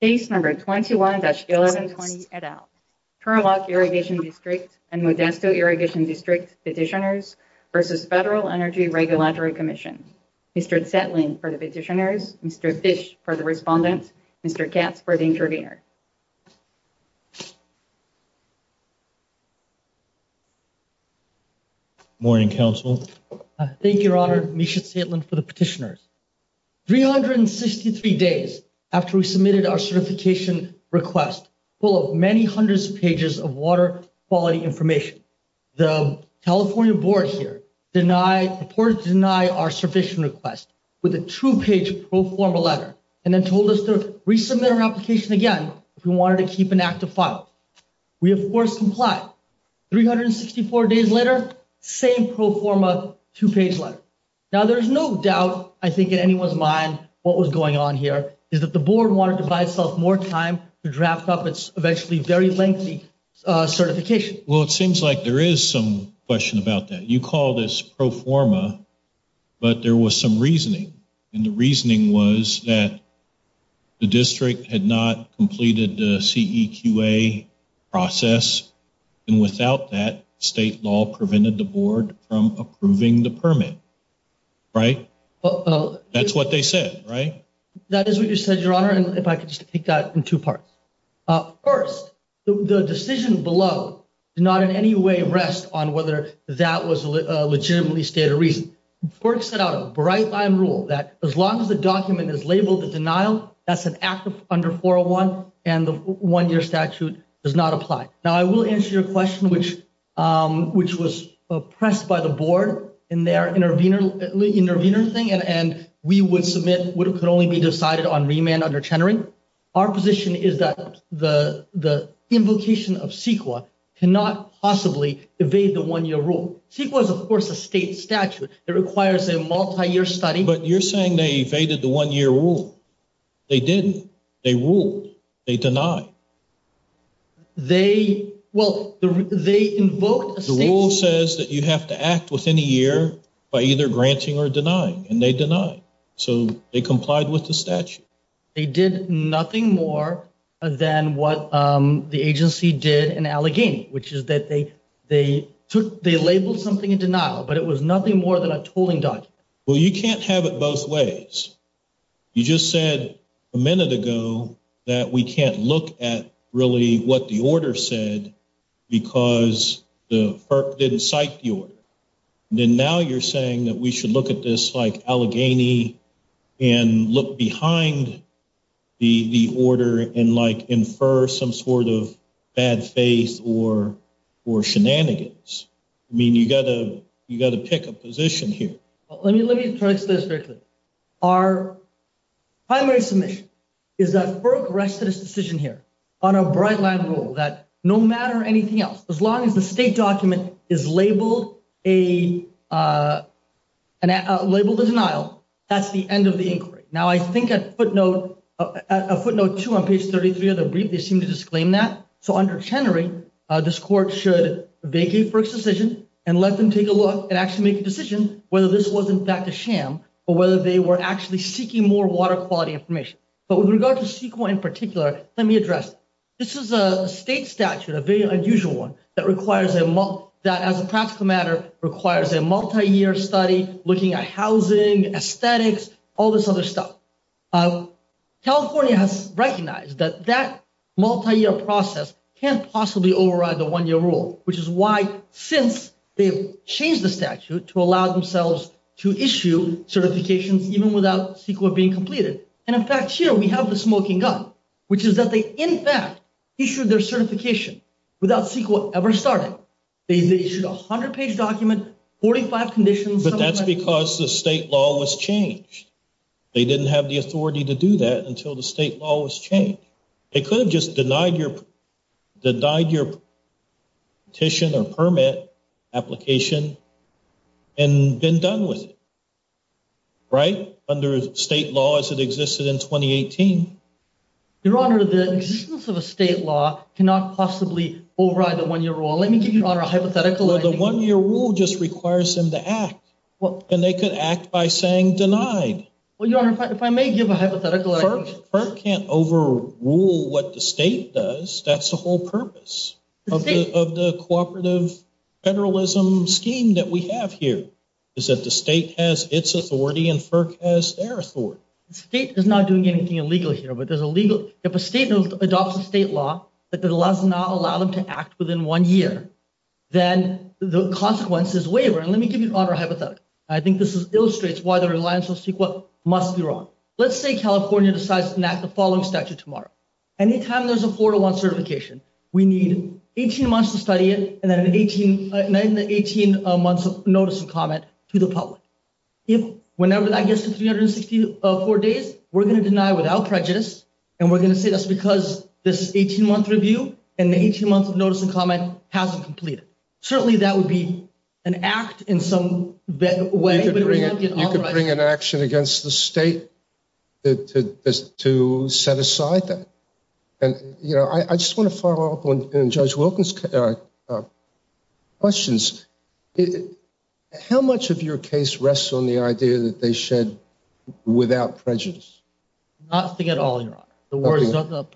Case number 21-1120 et al. Turlock Irrigation District and Modesto Irrigation District Petitioners versus Federal Energy Regulatory Commission. Mr. Zetlin for the petitioners, Mr. Fish for the respondent, Mr. Katz for the intervener. Morning, Council. Thank you, Your Honor. Misha Zetlin for the petitioners. 363 days after we submitted our certification request full of many hundreds of pages of water quality information, the California Board here reported to deny our certification request with a two-page pro forma letter and then told us to resubmit our application again if we wanted to keep an active file. We, of course, complied. 364 days later, same pro forma, two-page letter. Now, there's no doubt, I think, in anyone's mind what was going on here is that the Board wanted to buy itself more time to draft up its eventually very lengthy certification. Well, it seems like there is some question about that. You call this pro forma, but there was some reasoning, and the reasoning was that the District had not completed the CEQA process, and without that, state law prevented the Board from approving the permit, right? That's what they said, right? That is what you said, Your Honor, and if I could just take that in two parts. First, the decision below did not in any way rest on whether that was a legitimately stated reason. The Board set out a bright line rule that as long as the document is labeled a denial, that's an act under 401, and the one-year statute does not apply. Now, I will answer your question, which was pressed by the Board in their intervener thing, and we would submit what could only be decided on remand under Chenery. Our position is that the invocation of CEQA cannot possibly evade the one-year rule. CEQA is, of course, a state statute that requires a multi-year study. But you're saying they evaded the one-year rule. They didn't. They ruled. They denied. They, well, they invoked... The rule says that you have to act within a year by either granting or denying, and they denied, so they complied with the statute. They did nothing more than what the agency did in Allegheny, which is that they took... They labeled something in denial, but it was nothing more than a tooling document. Well, you can't have it both ways. You just said a minute ago that we can't look at really what the order said because the FERC didn't cite the order. Then now you're saying that we should look at this like Allegheny and look behind the order and, like, infer some sort of bad faith or shenanigans. I mean, you got to pick a position here. Well, let me try to explain this very quickly. Our primary submission is that FERC rested its decision here on a bright line rule that no matter anything else, as long as the state document is labeled a denial, that's the end of the inquiry. Now, I think at footnote two on page 33 of the brief, they seem to disclaim that. So, under Chenery, this court should vacate FERC's decision and let them take a look and actually make a decision whether this was in fact a sham or whether they were actually seeking more water quality information. But with regard to CEQA in particular, let me address it. This is a state statute, a very unusual one, that, as a practical matter, requires a multi-year study looking at housing, aesthetics, all this other stuff. California has recognized that that multi-year process can't possibly override the one-year rule, which is why, since they've changed the statute to allow themselves to issue certifications even without CEQA being completed. And, in fact, here we have the smoking gun, which is that they, in fact, issued their certification without CEQA ever starting. They issued a 100-page document, 45 conditions. But that's because the state law was changed. They didn't have the authority to do that until the state law was changed. They could have just denied your petition or permit application and been done with it, right, under state law as it existed in 2018. Your Honor, the existence of a state law cannot possibly override the one-year rule. Let me give you, Your Honor, a hypothetical. Well, the one-year rule just requires them to act, and they could act by saying denied. Well, Your Honor, if I may give a hypothetical. FERC can't overrule what the state does. That's the whole purpose of the cooperative federalism scheme that we have here, is that the state has its authority and FERC has their authority. The state is not doing anything illegal here, but there's a legal, if a state adopts a state law that does not allow them to act within one year, then the consequences waver. And let me give you, Your Honor, a hypothetical. I think this illustrates why the reliance on CEQA must be wrong. Let's say California decides to enact the following statute tomorrow. Anytime there's a four-to-one certification, we need 18 months to study it, and then 18 months of notice and comment to the public. If whenever that gets to 364 days, we're going to deny without prejudice, and we're going to say that's because this 18-month review and the 18 months of notice and comment hasn't completed. Certainly, that would be an act in some way. You could bring an action against the state to set aside that. I just want to follow up on Judge Wilkins' questions. How much of your case rests on the idea that they shed without prejudice? Nothing at all, Your Honor.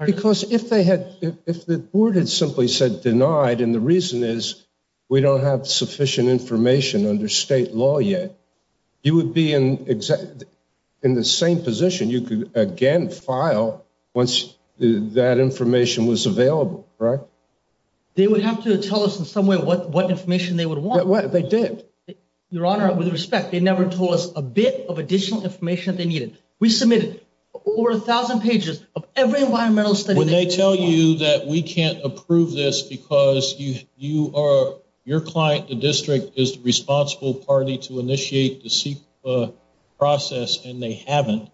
Because if the board had simply said denied, and the reason is we don't have sufficient information under state law yet, you would be in the same position. You could again file once that information was available, right? They would have to tell us in some way what information they would want. They did. Your Honor, with respect, they never told us a bit of additional information that they needed. We submitted over a thousand pages of every When they tell you that we can't approve this because your client, the district, is the responsible party to initiate the CEQA process, and they haven't,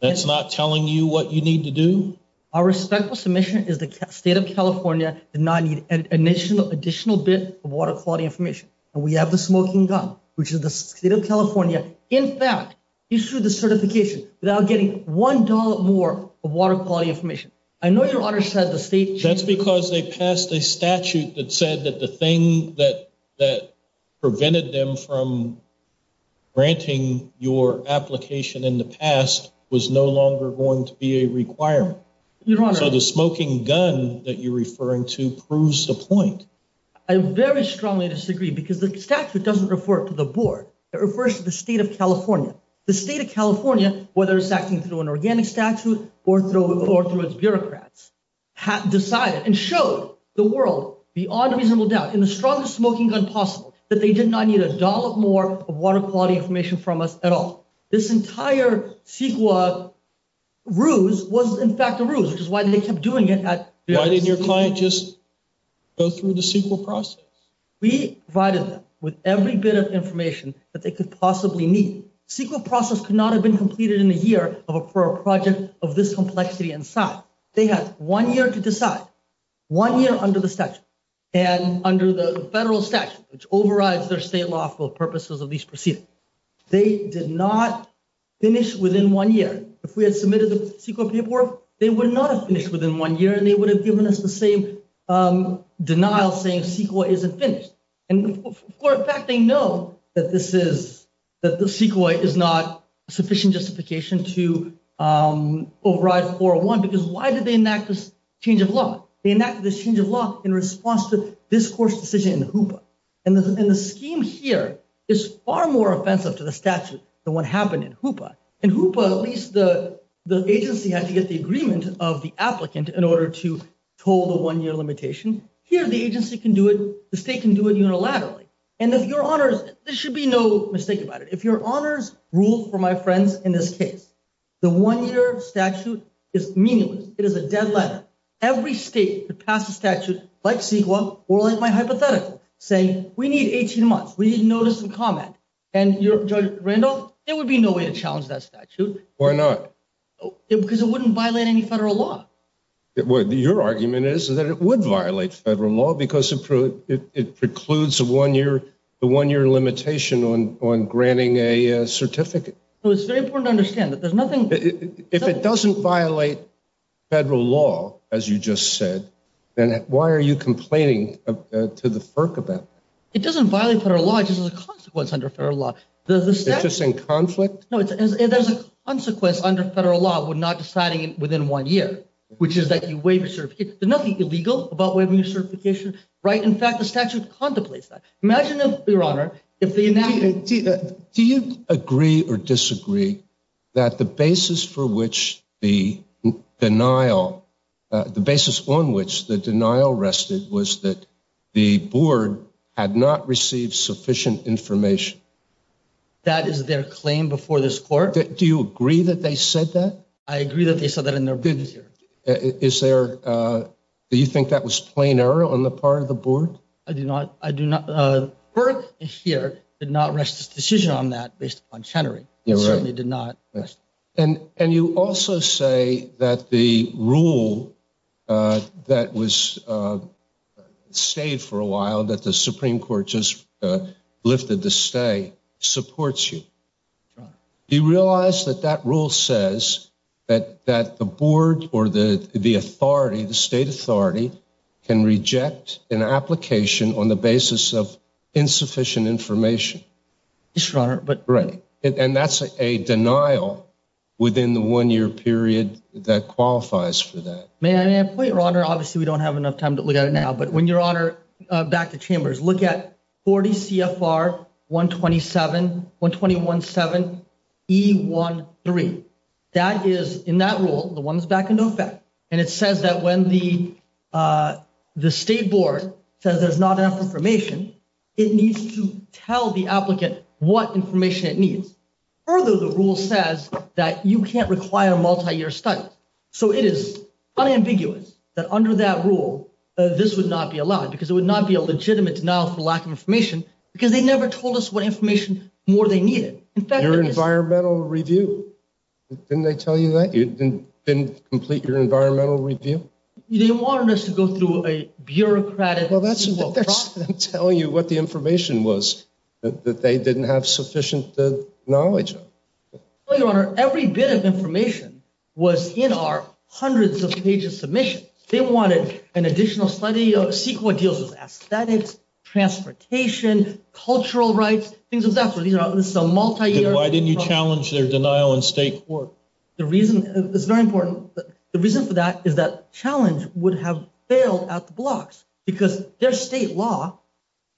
that's not telling you what you need to do? Our respectful submission is the state of California did not need an additional bit of water quality information. And we have the smoking gun, which is the state of California, in fact, issued the certification without getting one dollar more of water quality information. I know Your Honor said the state... That's because they passed a statute that said that the thing that prevented them from granting your application in the past was no longer going to be a requirement. So the smoking gun that you're referring to proves the point. I very strongly disagree because the statute doesn't refer to the board. It refers to the state of California. The state of California, whether it's acting through an organic statute or through its bureaucrats, decided and showed the world, beyond reasonable doubt, in the strongest smoking gun possible, that they did not need a dollar more of water quality information from us at all. This entire CEQA ruse was in fact a ruse, because why did they keep doing it? Why didn't your client just go through the CEQA process? We provided them with every bit of information that they could possibly need. CEQA process could not have been completed in a year for a project of this complexity and size. They had one year to decide, one year under the statute, and under the federal statute, which overrides their state lawful purposes of these proceedings. They did not finish within one year. If we had submitted the CEQA paperwork, they would not have finished within one year, and they would have given us the same denial saying CEQA isn't finished. And for a fact, they know that this is, that the CEQA is not a sufficient justification to override 401, because why did they enact this change of law? They enacted this change of law in response to this court's decision in the HOOPA. And the scheme here is far more offensive to the statute than what happened in HOOPA. In HOOPA, at least the agency had to get the agreement of the applicant in order to toll the one-year limitation. Here, the agency can do it, the state can do it unilaterally. And if your honors, there should be no mistake about it, if your honors rule for my friends in this case, the one-year statute is meaningless. It is a dead letter. Every state could pass a statute like CEQA, or like my hypothetical, saying we need 18 months, we need notice and comment. And Judge Randolph, there would be no way to challenge that statute. Why not? Because it wouldn't violate any federal law. Your argument is that it would violate federal law because it precludes the one-year, limitation on granting a certificate. So it's very important to understand that there's nothing- If it doesn't violate federal law, as you just said, then why are you complaining to the FERC about that? It doesn't violate federal law, it's just a consequence under federal law. It's just in conflict? No, there's a consequence under federal law, we're not deciding within one year, which is that you waive your certificate. There's nothing illegal about waiving your certificate. Do you agree or disagree that the basis for which the denial, the basis on which the denial rested was that the board had not received sufficient information? That is their claim before this court. Do you agree that they said that? I agree that they said that in their brief. Is there, do you think that was plain error on the part of the board? I do not, I do not, the FERC here did not rest its decision on that based on Chenery. You're right. It certainly did not. And you also say that the rule that was stayed for a while, that the Supreme Court just lifted to stay, supports you. That's right. Do you realize that that rule says that the board or the authority, the state authority, can reject an application on the basis of insufficient information? Yes, Your Honor, but- Right. And that's a denial within the one year period that qualifies for that. May I point, Your Honor, obviously we don't have enough time to look at it now, but when Your Honor, back to Chambers, look at 40 CFR 127, 120.17, E13. That is, in that rule, the one that's back in effect. And it says that when the state board says there's not enough information, it needs to tell the applicant what information it needs. Further, the rule says that you can't require a multi-year study. So it is unambiguous that under that rule, this would not be allowed because it would not be a legitimate denial for lack of information because they never told us what information more they needed. In fact- Your environmental review, didn't they tell you that? Didn't complete your environmental review? They wanted us to go through a bureaucratic- Well, that's what they're telling you what the information was that they didn't have sufficient knowledge of. Well, Your Honor, every bit of information was in our hundreds of pages submissions. They wanted an additional study of CEQA deals with aesthetics, transportation, cultural rights, things of that sort. These are some multi-year- Why didn't you challenge their denial in state court? The reason is very important. The reason for that is that challenge would have failed at the blocks because their state law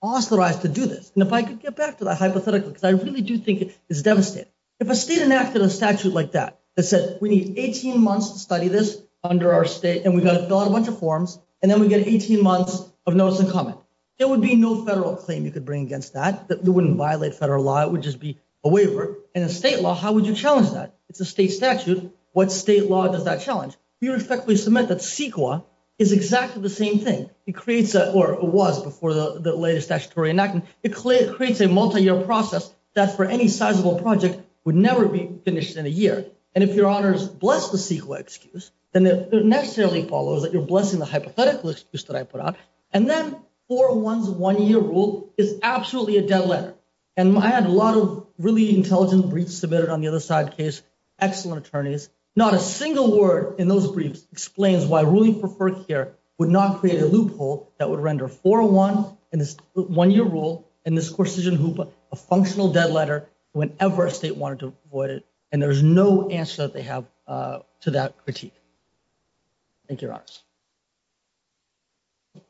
authorized to do this. And if I could get back to that hypothetically, because I really do think it's devastating. If a state enacted a statute like that that said, we need 18 months to study this under our state, and we've got to fill out a bunch of forms, and then we get 18 months of notice and comment, there would be no federal claim you could bring against that. It wouldn't violate federal law. It would just be a waiver. In a state law, how would you challenge that? It's a state statute. What state law does that challenge? We respectfully submit that CEQA is exactly the same thing. It creates, or was before the latest statutory enactment, it creates a multi-year process that for any sizable project would never be finished in a year. And if Your Honors bless the CEQA excuse, then it necessarily follows that you're blessing the hypothetical excuse that I put out. And then 401's one-year rule is absolutely a dead letter. And I had a lot of really intelligent briefs submitted on the other side of the case, excellent attorneys. Not a single word in those briefs explains why ruling for FERC here would not create a loophole that would render 401, and this one-year rule, and this Corsican hoopla, a functional dead letter whenever a state wanted to avoid it. Thank you, Your Honors. Thank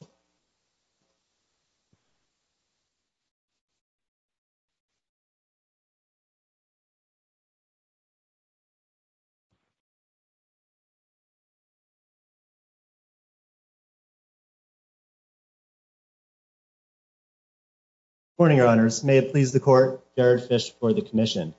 you, Your Honors. Good morning, Your Honors. May it please the court, Jared Fish for the commission.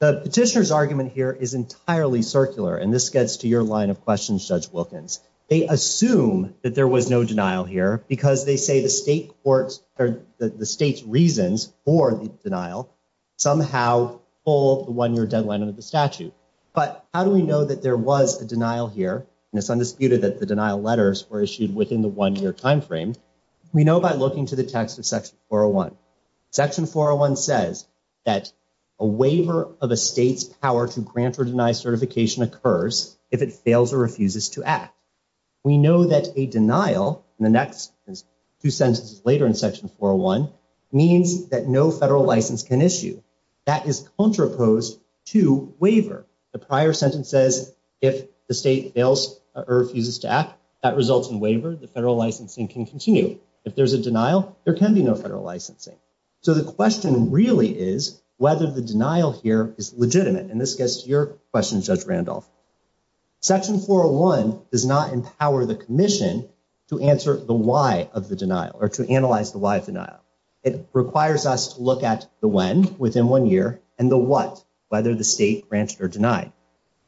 The petitioner's argument here is entirely circular, and this gets to your line of questions, Judge Wilkins. They assume that there was no denial here because they say the state's reasons for the denial somehow hold the one-year deadline under the statute. But how do we know that there was a denial here? And it's undisputed that the denial letters were issued within the one-year time frame. We know by looking to the text of Section 401. Section 401 says that a waiver of a state's power to grant or deny certification occurs if it fails or refuses to act. We know that a denial in the next two sentences later in Section 401 means that no federal license can issue. That is contraposed to waiver. The prior sentence says if the state fails or refuses to act, that results in waiver. The federal licensing can continue. If there's a denial, there can be no federal licensing. So the question really is whether the denial here is legitimate, and this gets to your question, Judge Randolph. Section 401 does not empower the Commission to answer the why of the denial or to analyze the why of denial. It requires us to look at the when, within one year, and the what, whether the state granted or denied.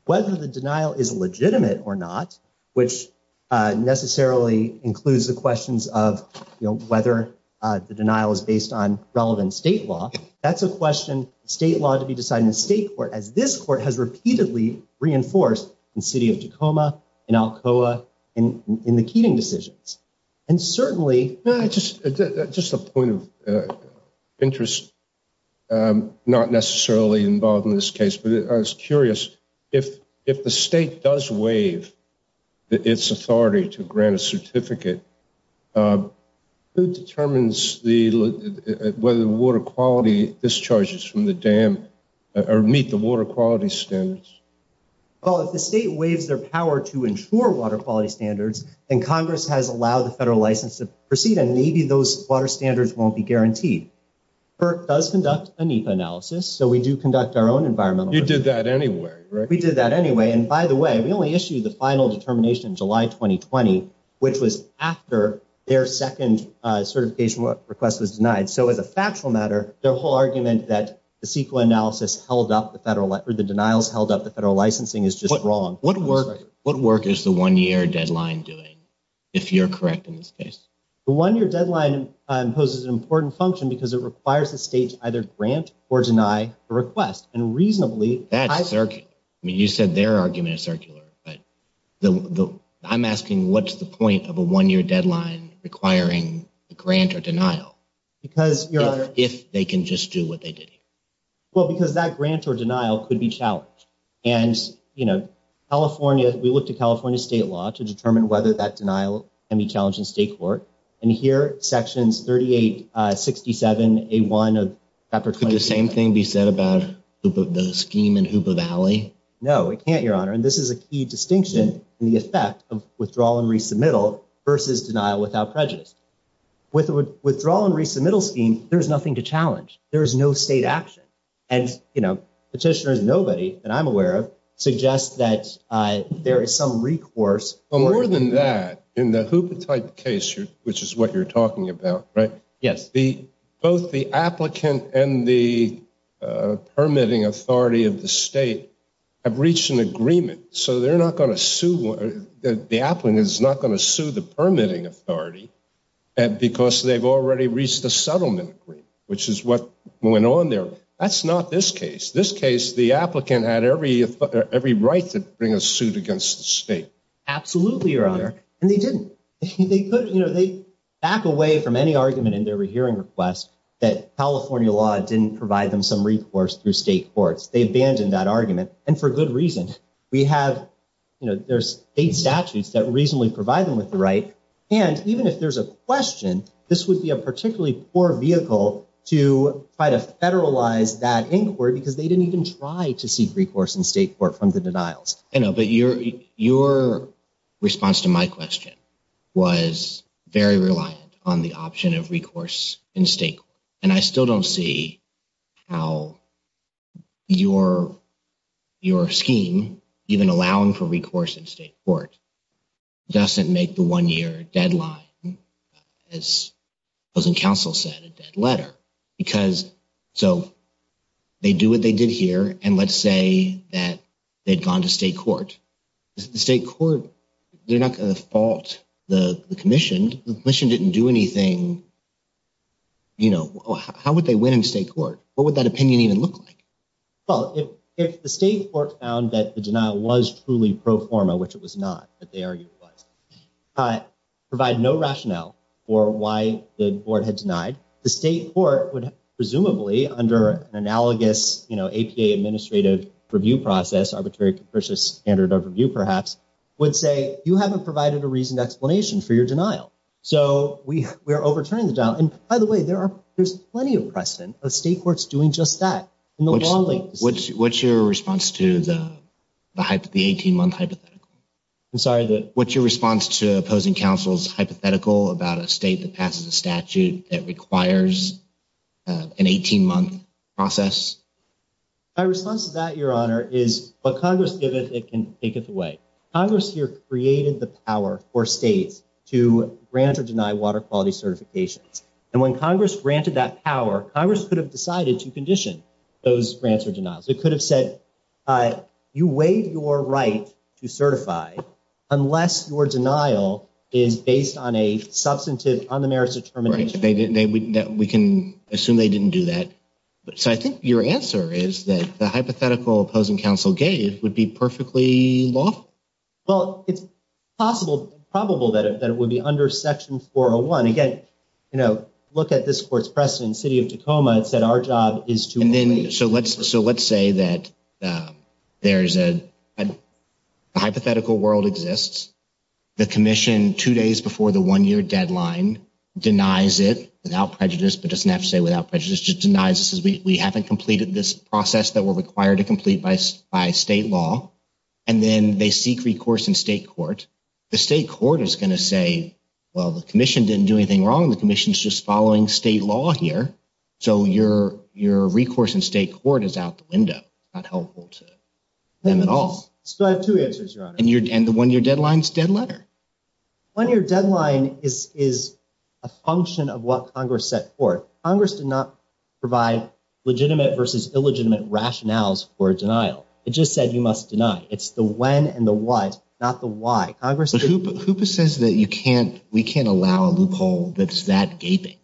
Whether the denial is legitimate or not, which necessarily includes the questions of, you know, whether the denial is based on relevant state law, that's a question, state law to be decided in the state court, as this court has repeatedly reinforced in the City of Tacoma, in Alcoa, in the Keating decisions. And certainly... Just a point of interest, not necessarily involved in this case, but I was curious, if the state does waive its authority to grant a certificate, who determines whether the water quality discharges from the dam or meet the water quality standards? Well, if the state waives their power to ensure water quality standards, then Congress has allowed the federal license to proceed, and maybe those water standards won't be guaranteed. FERC does conduct a NEPA analysis, so we do conduct our own environmental... You did that anyway, right? We did that anyway, and by the way, we only issued the final determination July 2020, which was after their second certification request was denied. So as a factual matter, their whole argument that the CEQA analysis held up the federal... or the denials held up the federal licensing is just wrong. What work is the one-year deadline doing, if you're correct in this case? The one-year deadline imposes an important function because it requires the state to either grant or deny a request, and reasonably... You said their argument is circular, but I'm asking what's the point of a one-year deadline requiring a grant or denial? Because, Your Honor... If they can just do what they did here. Well, because that grant or denial could be challenged, and, you know, California... We looked at California state law to determine whether that denial can be challenged in state court, and here, Sections 3867A1 of Chapter 27... Could the same thing be said about the scheme in Hoopa Valley? No, it can't, Your Honor, and this is a key distinction in the effect of withdrawal and resubmittal versus denial without prejudice. With withdrawal and resubmittal scheme, there's nothing to challenge. There is no state action. And, you know, petitioners, nobody that I'm aware of, suggest that there is some recourse... But more than that, in the Hoopa-type case, which is what you're talking about, right? Yes. Both the applicant and the permitting authority of the state have reached an agreement, so they're not going to sue... The applicant is not going to sue the permitting authority, because they've already reached a settlement agreement, which is what went on there. That's not this case. This case, the applicant had every right to bring a suit against the state. Absolutely, Your Honor, and they didn't. They put... You know, they back away from any argument in their hearing request that California law didn't provide them some recourse through state courts. They abandoned that argument, and for good reason. We have... You know, there's state statutes that reasonably provide them with the right, and even if there's a question, this would be a particularly poor vehicle to try to federalize that inquiry, because they didn't even try to seek recourse in state court from the denials. I know, but your response to my question was very reliant on the option of recourse in state court, and I still don't see how your scheme, even allowing for recourse in state court, doesn't make the one-year deadline, as opposing counsel said, a dead letter, because, so, they do what they did here, and let's say that they'd gone to state court. The state court, they're not going to fault the commission. The commission didn't do anything. You know, how would they win in state court? What would that opinion even look like? Well, if the state court found that the denial was truly pro forma, which it was not, but they argued it was, provide no rationale for why the board had denied, the state court would, presumably, under an analogous, you know, APA administrative review process, arbitrary capricious standard of review, perhaps, would say, you haven't provided a reasoned explanation for your denial. So, we are overturning the denial, and by the way, there's plenty of precedent of state courts doing just that. What's your response to the 18-month hypothetical? What's your response to opposing counsel's hypothetical about a state that passes a statute that requires an 18-month process? My response to that, Your Honor, is what Congress give it, it can take it away. Congress here created the power for states to grant or deny water quality certifications, and when Congress granted that power, Congress could have decided to condition those grants or denials. It could have said, you waive your right to certify unless your denial is based on a substantive, on the merits of termination. We can assume they didn't do that. So, I think your answer is that the hypothetical opposing counsel gave would be perfectly lawful. Well, it's possible, probable that it would be under Section 401. Again, you know, look at this court's precedent, City of Tacoma, it said our job is to- And then, so let's say that there's a hypothetical world exists, the commission two days before the one-year deadline denies it without prejudice, but doesn't have to say without prejudice, just denies this as we haven't completed this process that we're required to complete by state law, and then they seek recourse in state court. The state court is going to say, well, the commission didn't do anything wrong, the commission's just following state law here. So, your recourse in state court is out the window. It's not helpful to them at all. So, I have two answers, Your Honor. And the one-year deadline's dead letter. One-year deadline is a function of what Congress set forth. Congress did not provide legitimate versus illegitimate rationales for denial. It just said you must deny. It's the when and the what, not the why. But HOOPA says that we can't allow a loophole that's that gaping.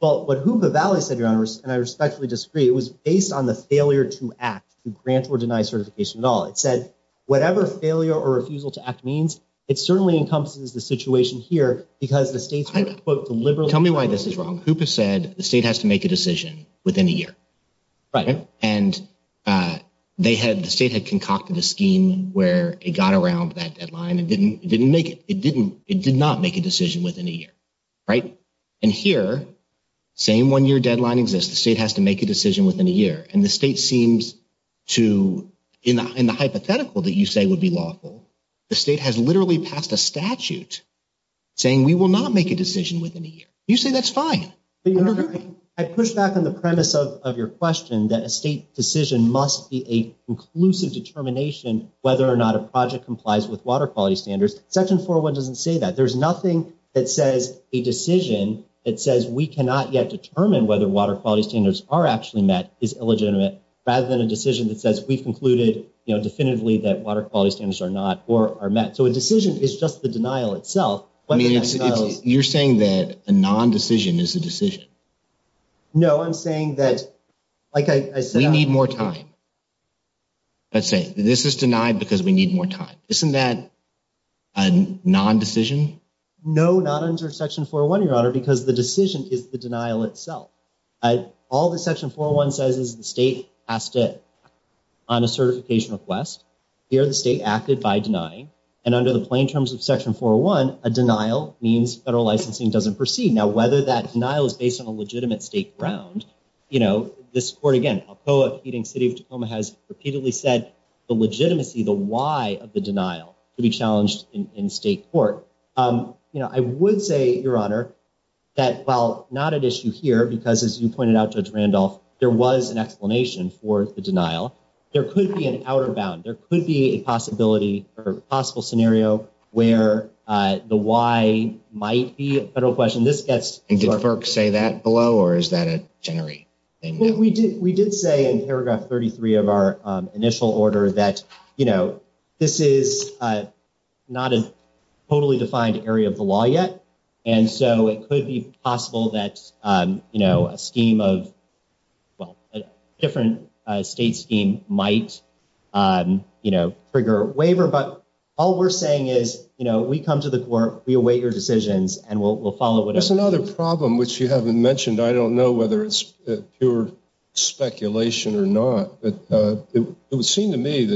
Well, what HOOPA Valley said, Your Honor, and I respectfully disagree, it was based on the failure to act to grant or deny certification at all. It said whatever failure or refusal to act means, it certainly encompasses the situation here because the state's- Tell me why this is wrong. HOOPA said the state has to make a decision within a year. Right. And the state had concocted a scheme where it got around that deadline and didn't make it. It did not make a decision within a year. Right. And here, same one-year deadline exists. The state has to make a decision within a year. And the state seems to, in the hypothetical that you say would be lawful, the state has literally passed a statute saying we will not make a decision within a year. You say that's fine. Your Honor, I push back on the premise of your question that a state decision must be a conclusive determination whether or not a project complies with water quality standards. Section 401 doesn't say that. There's nothing that says a decision that says we cannot yet determine whether water quality standards are actually met is illegitimate rather than a decision that says we've concluded, you know, definitively that water quality standards are not or are met. So a decision is just the denial itself. I mean, you're saying that a non-decision is a decision. No, I'm saying that, like I said— We need more time. Let's say this is denied because we need more time. Isn't that a non-decision? No, not under Section 401, Your Honor, because the decision is the denial itself. All that Section 401 says is the state has to act on a certification request. Here, the state acted by denying. And under the plain terms of Section 401, a denial means federal licensing doesn't proceed. Now, whether that denial is based on a legitimate state ground, you know, this court, again, Alcoa beating City of Tacoma, has repeatedly said the legitimacy, the why of the denial to be challenged in state court. You know, I would say, Your Honor, that while not an issue here, because as you pointed out, Judge Randolph, there was an explanation for the denial. There could be an outer bound. There could be a possibility or possible scenario where the why might be a federal question. This gets— And did FERC say that below, or is that a generic thing now? We did say in paragraph 33 of our initial order that, you know, this is not a totally defined area of the law yet, and so it could be possible that, you know, a scheme of—well, a different state scheme might, you know, trigger a waiver. But all we're saying is, you know, we come to the court, we await your decisions, and we'll follow whatever— There's another problem, which you haven't mentioned. I don't know whether it's pure speculation or not, but it would seem to me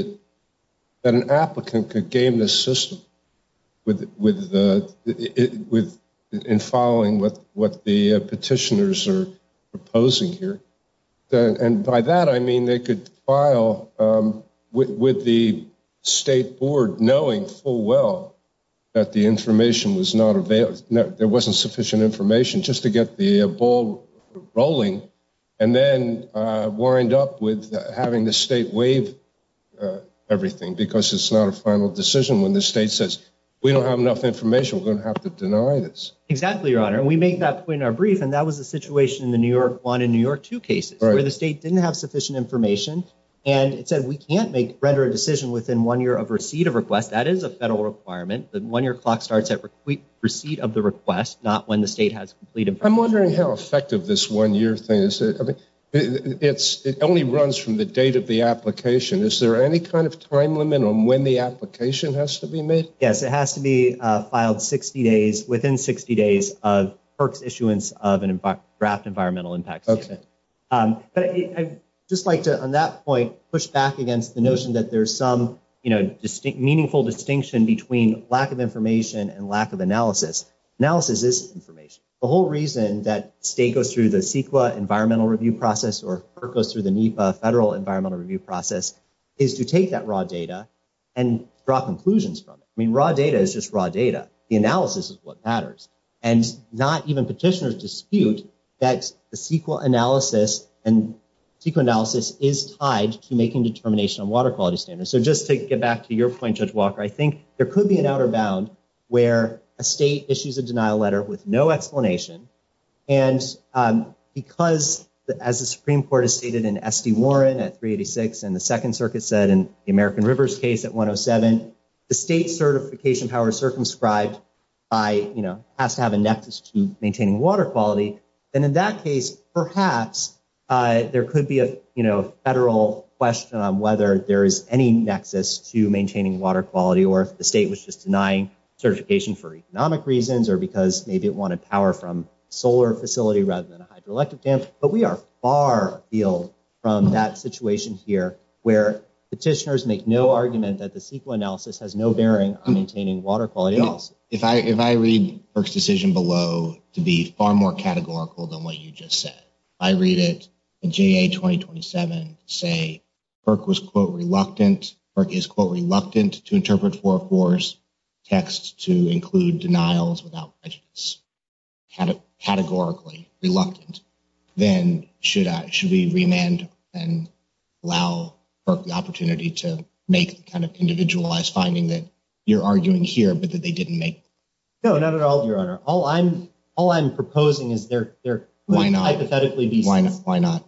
that an applicant could game the system with—in following what the petitioners are proposing here. And by that, I mean they could file with the state board knowing full well that the information was not available—there wasn't sufficient information just to get the ball rolling, and then wind up with having the state waive everything because it's not a final decision when the state says, we don't have enough information, we're going to have to deny this. Exactly, Your Honor. We make that point in our brief, and that was the situation in the New York 1 and New York 2 cases, where the state didn't have sufficient information, and it said we can't make—render a decision within one year of receipt of request. That is a federal requirement. The one-year clock starts at receipt of the request, not when the state has complete information. I'm wondering how effective this one-year thing is. It only runs from the date of the application. Is there any kind of time limit on when the application has to be made? Yes, it has to be filed 60 days—within 60 days of PERC's issuance of a draft environmental impact statement. But I'd just like to, on that point, push back against the notion that there's some meaningful distinction between lack of information and lack of analysis. Analysis is information. The whole reason that state goes through the CEQA environmental review process or PERC goes through the NEPA federal environmental review process is to take that raw data and draw conclusions from it. I mean, raw data is just raw data. The analysis is what matters. And not even petitioners dispute that the CEQA analysis is tied to making determination on water quality standards. So just to get back to your point, Judge Walker, I think there could be an outer bound where a state issues a denial letter with no explanation. And because, as the Supreme Court has stated in S.D. Warren at 386 and the Second Circuit said in the American Rivers case at 107, the state's certification power is circumscribed by—has to have a nexus to maintaining water quality. And in that case, perhaps there could be a federal question on whether there is any nexus to maintaining water quality or if the state was just denying certification for economic reasons or because maybe it wanted power from a solar facility rather than a hydroelectric dam. But we are far afield from that situation here where petitioners make no argument that the CEQA analysis has no bearing on maintaining water quality. Also, if I read PERC's decision below to be far more categorical than what you just said, I read it in JA 2027 to say PERC was, quote, reluctant—PERC is, quote, reluctant to interpret 404's text to include denials without prejudice, categorically reluctant, then should we remand and allow PERC the opportunity to make the kind of individualized finding that you're arguing here but that they didn't make? No, not at all, Your Honor. All I'm proposing is there— Why not? Why not?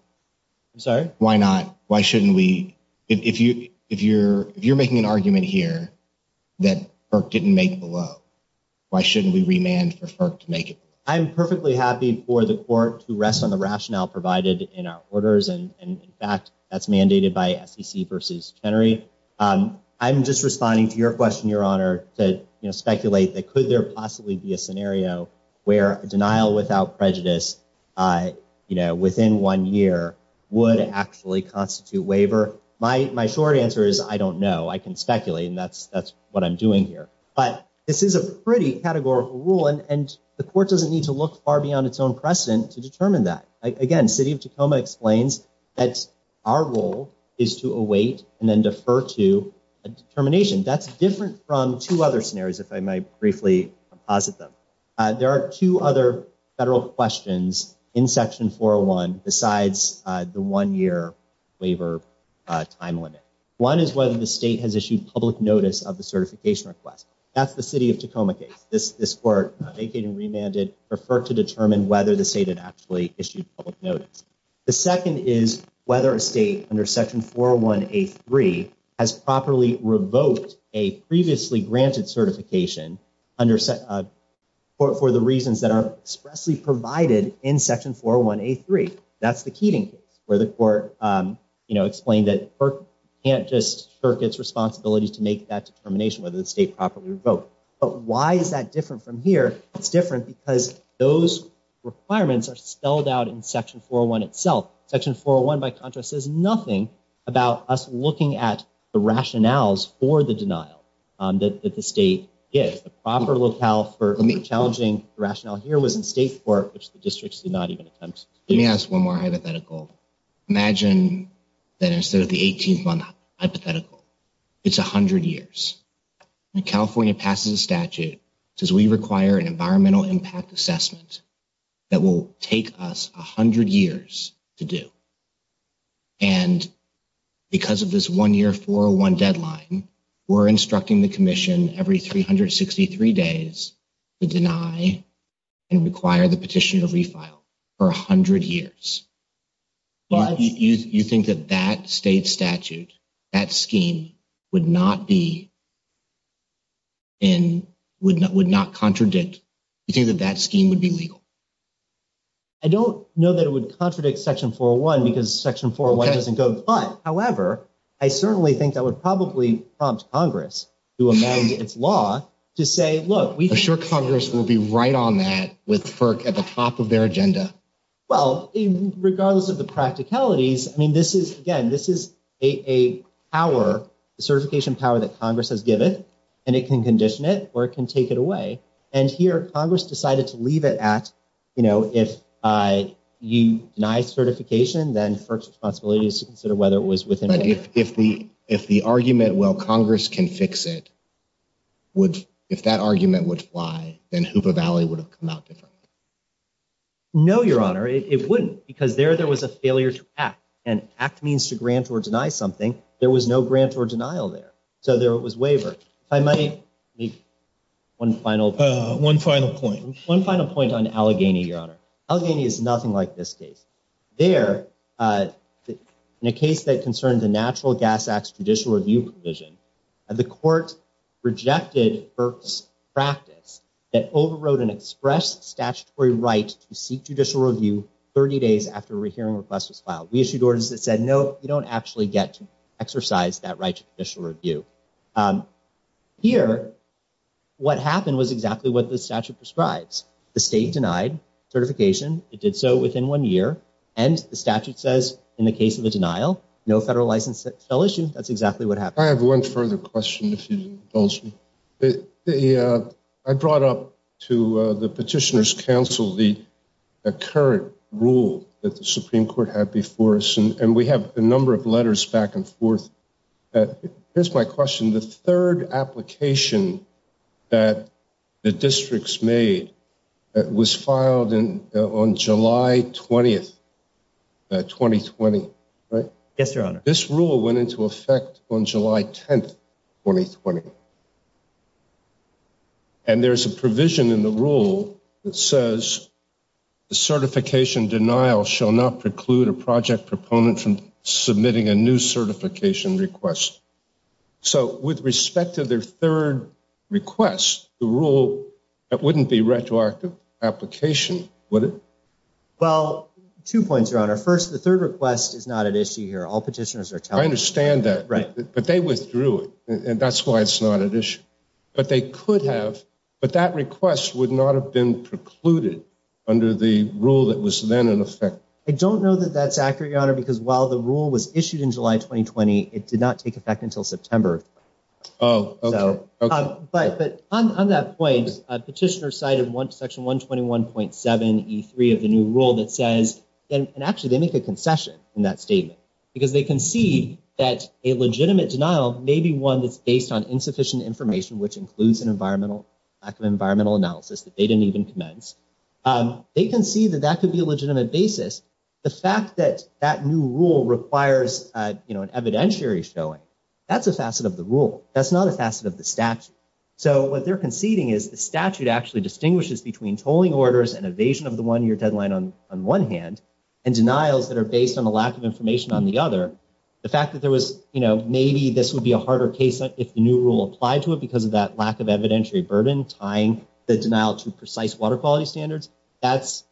I'm sorry? Why not? Why shouldn't we—if you're making an argument here that PERC didn't make below, why shouldn't we remand for PERC to make it below? I'm perfectly happy for the court to rest on the rationale provided in our orders. And in fact, that's mandated by SEC v. Chenery. I'm just responding to your question, Your Honor, to speculate that could there possibly be a scenario where a denial without prejudice, you know, within one year would actually constitute waiver. My short answer is I don't know. I can speculate, and that's what I'm doing here. But this is a pretty categorical rule, and the court doesn't need to look far beyond its own precedent to determine that. Again, City of Tacoma explains that our role is to await and then defer to a determination. That's different from two other scenarios, if I might briefly posit them. There are two other federal questions in Section 401 besides the one-year waiver time limit. One is whether the state has issued public notice of the certification request. That's the City of Tacoma case. This court vacated and remanded, referred to determine whether the state had actually issued public notice. The second is whether a state under Section 401A3 has properly revoked a previously granted certification for the reasons that are expressly provided in Section 401A3. That's the Keating case, where the court, you know, explained that it can't just shirk its responsibilities to make that determination whether the state properly revoked. But why is that different from here? It's different because those requirements are spelled out in Section 401 itself. Section 401, by contrast, says nothing about us looking at the rationales for the denial that the state gives. The proper locale for challenging the rationale here was in state court, which the district did not even attempt. Let me ask one more hypothetical. Imagine that instead of the 18-month hypothetical, it's 100 years. California passes a statute that says we require an environmental impact assessment that will take us 100 years to do. And because of this one-year, 401 deadline, we're instructing the commission every 363 days to deny and require the petition to refile for 100 years. But you think that that state statute, that scheme, would not be in, would not contradict, you think that that scheme would be legal? I don't know that it would contradict Section 401 because Section 401 doesn't go. But, however, I certainly think that would probably prompt Congress to amend its law to say, look, we- Are you sure Congress will be right on that with FERC at the top of their agenda? Well, regardless of the practicalities, I mean, this is, again, this is a power, a certification power that Congress has given, and it can condition it or it can take it away. And here, Congress decided to leave it at, you know, if you deny certification, then FERC's responsibility is to consider whether it was within- But if the argument, well, Congress can fix it, if that argument would fly, then Hoopa Valley would have come out different. No, Your Honor, it wouldn't, because there, there was a failure to act, and act means to grant or deny something. There was no grant or denial there. So there was waiver. If I might make one final- One final point. One final point on Allegheny, Your Honor. Allegheny is nothing like this case. There, in a case that concerned the Natural Gas Act's judicial review provision, the court rejected FERC's practice that overrode an express statutory right to seek judicial review 30 days after a hearing request was filed. We issued orders that said, no, you don't actually get to exercise that right to judicial review. Here, what happened was exactly what the statute prescribes. The state denied certification. It did so within one year. And the statute says, in the case of a denial, no federal license fell issue. That's exactly what happened. I have one further question, if you indulge me. I brought up to the Petitioner's Council the current rule that the Supreme Court had before us, and we have a number of letters back and forth. Here's my question. The third application that the districts made was filed on July 20th, 2020, right? Yes, Your Honor. This rule went into effect on July 10th, 2020. And there's a provision in the rule that says, the certification denial shall not preclude a project proponent from submitting a new certification request. So with respect to their third request, the rule, that wouldn't be retroactive application, would it? Well, two points, Your Honor. First, the third request is not at issue here. I understand that, but they withdrew it. And that's why it's not at issue. But they could have, but that request would not have been precluded under the rule that was then in effect. I don't know that that's accurate, Your Honor, because while the rule was issued in July 2020, it did not take effect until September. But on that point, Petitioner cited Section 121.7E3 of the new rule that says, and actually they make a concession in that statement, because they concede that a legitimate denial may be one that's based on insufficient information, which includes an environmental, lack of environmental analysis that they didn't even commence. They concede that that could be a legitimate basis. The fact that that new rule requires an evidentiary showing, that's a facet of the rule. That's not a facet of the statute. So what they're conceding is the statute actually distinguishes between tolling orders and evasion of the one-year deadline on one hand, and denials that are based on a lack of information on the other. The fact that there was, you know, maybe this would be a harder case if the new rule applied to it because of that lack of evidentiary burden tying the denial to precise water quality standards. That's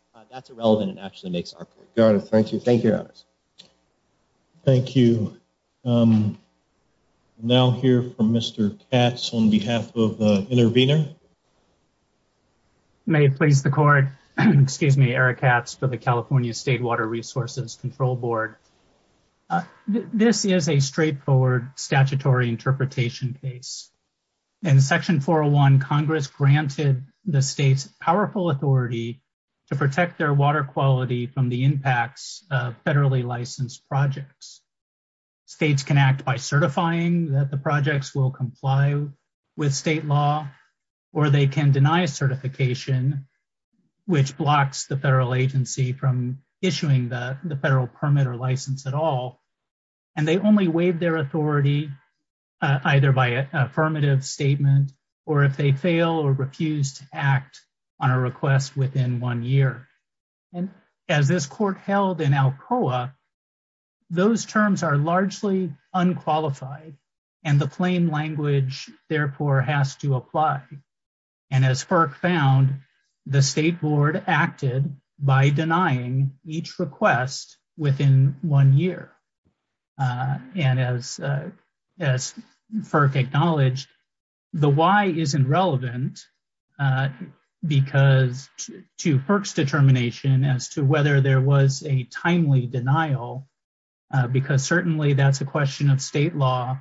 irrelevant and actually makes our point. Your Honor, thank you. Thank you, Your Honors. Thank you. Now hear from Mr. Katz on behalf of the intervener. May it please the court, excuse me, Eric Katz for the California State Water Resources Control Board. This is a straightforward statutory interpretation case. In section 401, Congress granted the state's powerful authority to protect their water quality from the impacts of federally licensed projects. States can act by certifying that the projects will comply with state law. Or they can deny certification, which blocks the federal agency from issuing the federal permit or license at all. And they only waive their authority either by affirmative statement or if they fail or refuse to act on a request within one year. And as this court held in Alcoa, those terms are largely unqualified and the plain language therefore has to apply. And as FERC found, the state board acted by denying each request within one year. And as as FERC acknowledged, the why isn't relevant because to FERC's determination as to whether there was a timely denial, because certainly that's a question of state law.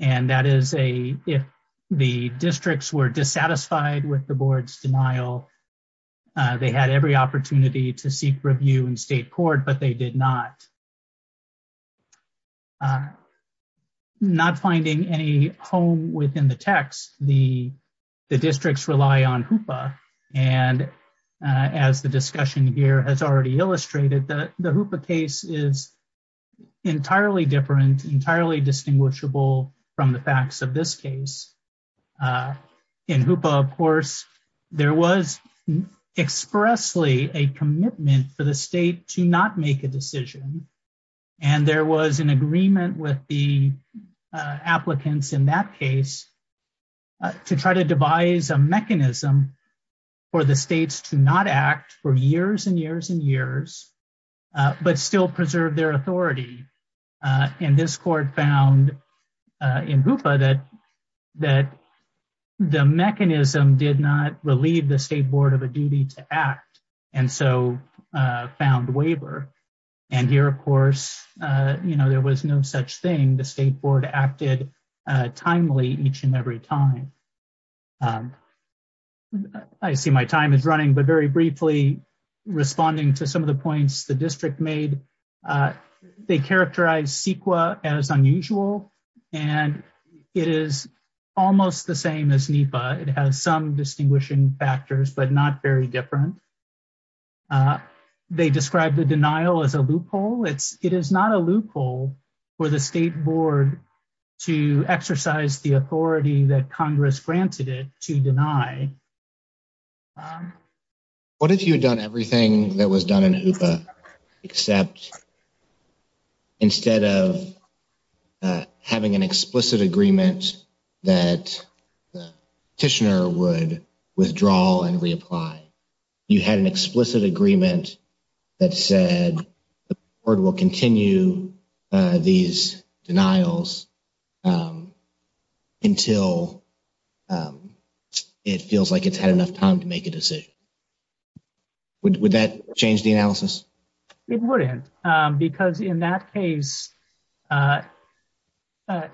And that is if the districts were dissatisfied with the board's denial, they had every opportunity to seek review in state court, but they did not. Not finding any home within the text, the districts rely on HOOPA. And as the discussion here has already illustrated, the HOOPA case is entirely different, entirely distinguishable from the facts of this case. In HOOPA, of course, there was expressly a commitment for the state to not make a decision. And there was an agreement with the applicants in that case to try to devise a mechanism for the states to not act for years and years and years, but still preserve their authority. And this court found in HOOPA that the mechanism did not relieve the state board of a duty to act and so found waiver. And here, of course, there was no such thing. The state board acted timely each and every time. I see my time is running, but very briefly, responding to some of the points the district made, they characterize CEQA as unusual, and it is almost the same as NEPA. It has some distinguishing factors, but not very different. They described the denial as a loophole. It is not a loophole for the state board to exercise the authority that Congress granted it to deny. Except instead of having an explicit agreement that the petitioner would withdraw and reapply, you had an explicit agreement that said the board will continue these denials until it feels like it has had enough time to make a decision. Would that change the analysis? It wouldn't. Because in that case, any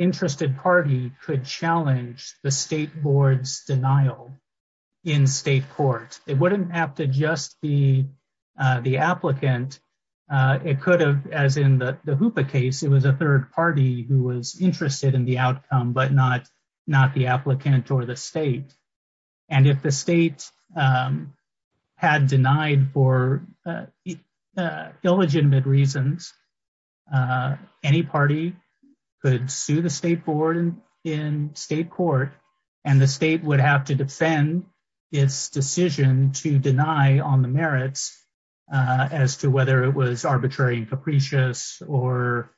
interested party could challenge the state board's denial in state court. It wouldn't have to just be the applicant. It could have, as in the HOOPA case, it was a third party who was interested in the outcome, but not the applicant or the state. If the state had denied for illegitimate reasons, any party could sue the state board in state court, and the state would have to defend its decision to deny on the merits as to whether it was arbitrary and capricious or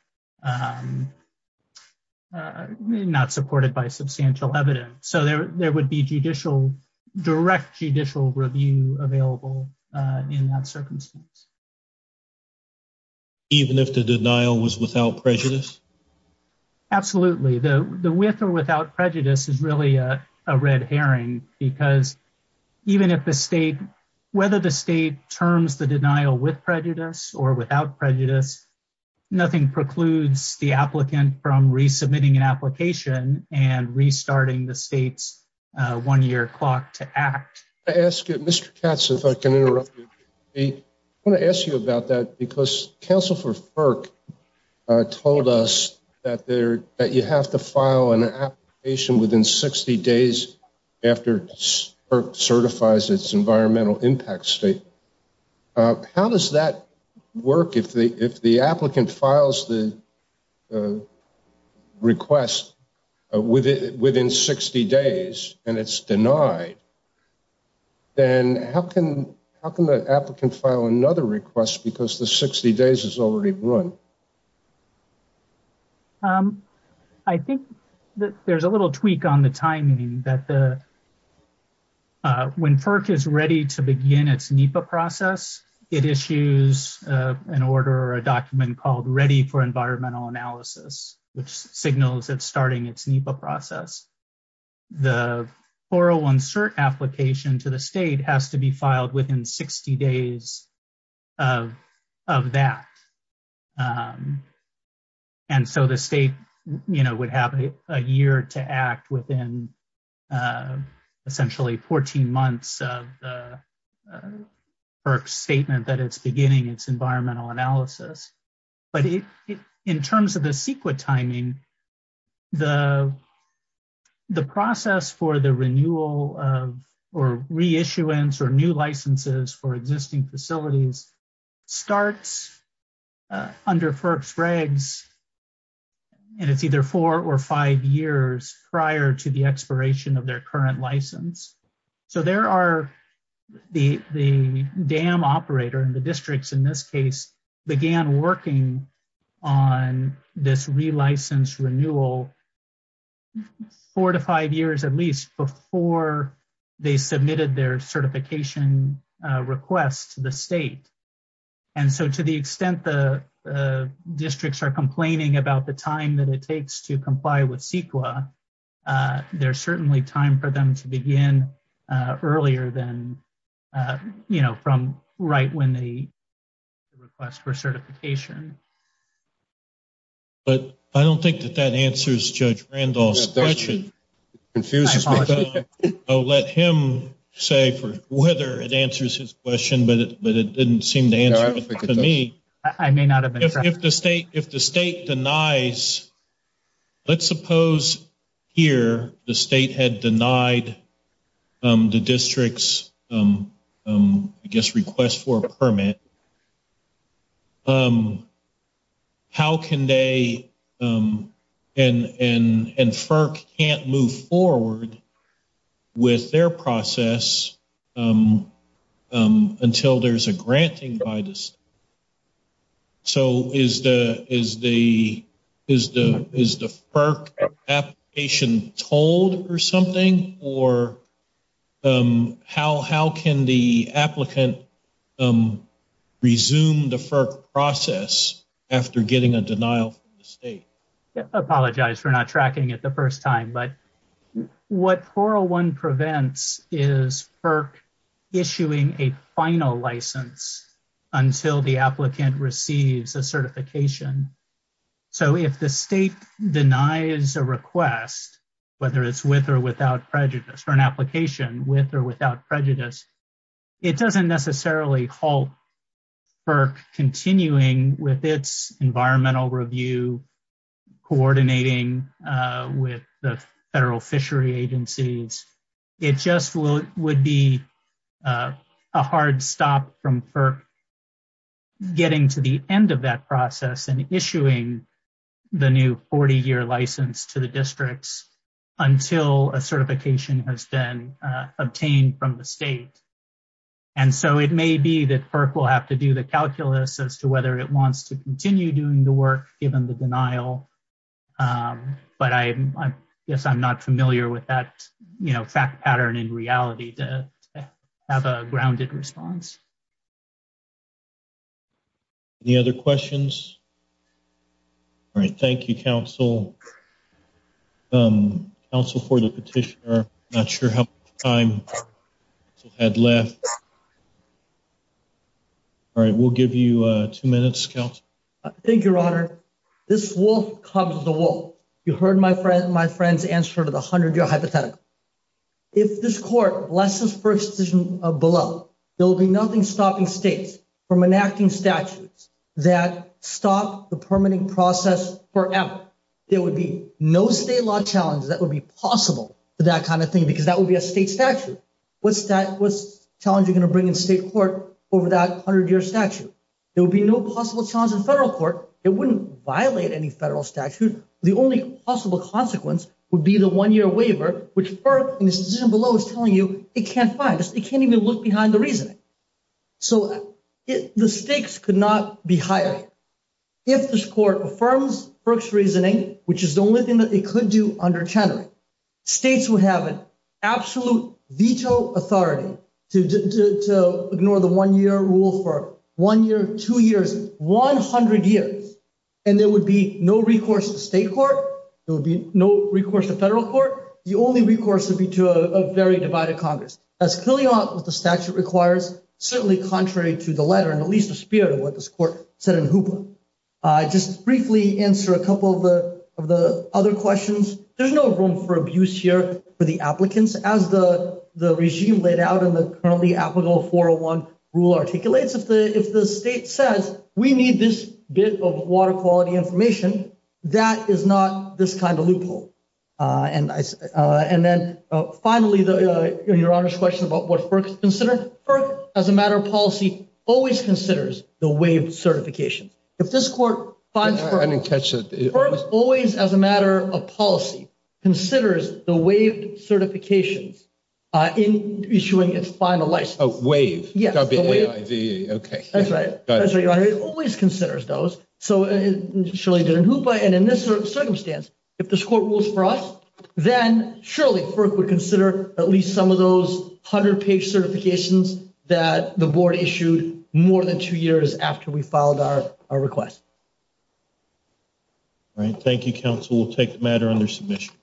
not supported by substantial evidence. There would be direct judicial review available in that circumstance. Even if the denial was without prejudice? Absolutely. The with or without prejudice is really a red herring. Because even if the state, whether the state terms the denial with prejudice or without prejudice, nothing precludes the applicant from resubmitting an application and restarting the state's one-year clock to act. Mr. Katz, if I can interrupt you, I want to ask you about that. Because Council for FERC told us that you have to file an application within 60 days after FERC certifies its environmental impact state. How does that work if the applicant files the request within 60 days and it's denied? Then how can the applicant file another request because the 60 days is already run? I think that there's a little tweak on the timing. When FERC is ready to begin its NEPA process, it issues an order or a document called Ready for Environmental Analysis, which signals it's starting its NEPA process. The 401 cert application to the state has to be filed within 60 days of that. The state would have a year to act within essentially 14 months of the FERC statement that it's beginning its environmental analysis. But in terms of the CEQA timing, the process for the renewal or reissuance or new licenses for existing facilities starts under FERC's regs. And it's either four or five years prior to the expiration of their current license. So there are the dam operator and the districts in this case began working on this relicense renewal four to five years at least before they submitted their certification request to the state. And so to the extent the districts are complaining about the time that it takes to comply with CEQA, there's certainly time for them to begin earlier than from right when they request for certification. But I don't think that that answers Judge Randolph's question. It confuses me. I'll let him say whether it answers his question, but it didn't seem to answer it for me. I may not have been correct. If the state denies, let's suppose here the state had denied the district's, I guess, request for a permit, and FERC can't move forward with their process until there's a granting by the state. So is the FERC application told or something? Or how can the applicant resume the FERC process after getting a denial from the state? Apologize for not tracking it the first time. But what 401 prevents is FERC issuing a final license until the applicant receives a certification. So if the state denies a request, whether it's with or without prejudice, or an application with or without prejudice, it doesn't necessarily halt FERC continuing with its environmental review, coordinating with the federal fishery agencies. It just would be a hard stop from FERC getting to the end of that process and issuing the new 40-year license to the districts until a certification has been obtained from the state. And so it may be that FERC will have to do the calculus as to whether it wants to continue doing the work given the denial. But I guess I'm not familiar with that fact pattern in reality to have a grounded response. Any other questions? All right. Thank you, counsel. Counsel for the petitioner, I'm not sure how much time you had left. All right. We'll give you two minutes, counsel. Thank you, Your Honor. This wolf cubs the wolf. You heard my friend's answer to the 100-year hypothetical. If this court blesses FERC's decision below, there will be nothing stopping states from enacting statutes that stop the permitting process forever. There would be no state law challenge that would be possible for that kind of thing, because that would be a state statute. What challenge are you going to bring in state court over that 100-year statute? There would be no possible challenge in federal court. It wouldn't violate any federal statute. The only possible consequence would be the one-year waiver, which FERC in this decision below is telling you it can't find. It can't even look behind the reasoning. So the stakes could not be higher. If this court affirms FERC's reasoning, which is the only thing that it could do under Chenery, states would have an absolute veto authority to ignore the one-year rule for one year, two years, 100 years, and there would be no recourse to state court. There would be no recourse to federal court. The only recourse would be to a very divided Congress. That's clearly not what the statute requires, certainly contrary to the letter and at least the spirit of what this court said in HOOPA. I'll just briefly answer a couple of the other questions. There's no room for abuse here for the applicants, as the regime laid out in the currently applicable 401 rule articulates. If the state says, we need this bit of water quality information, that is not this kind of loophole. And then finally, Your Honor's question about what FERC considers. FERC, as a matter of policy, always considers the waived certifications. If this court finds FERC- I didn't catch it. FERC always, as a matter of policy, considers the waived certifications in issuing its final license. Oh, waive. Yes. W-A-I-V-E. Okay. That's right. That's right, Your Honor. It always considers those. So it surely did in HOOPA and in this circumstance, if this court rules for us, then surely FERC would consider at least some of those 100-page certifications that the board issued more than two years after we filed our request. All right. Thank you, counsel. We'll take the matter under submission.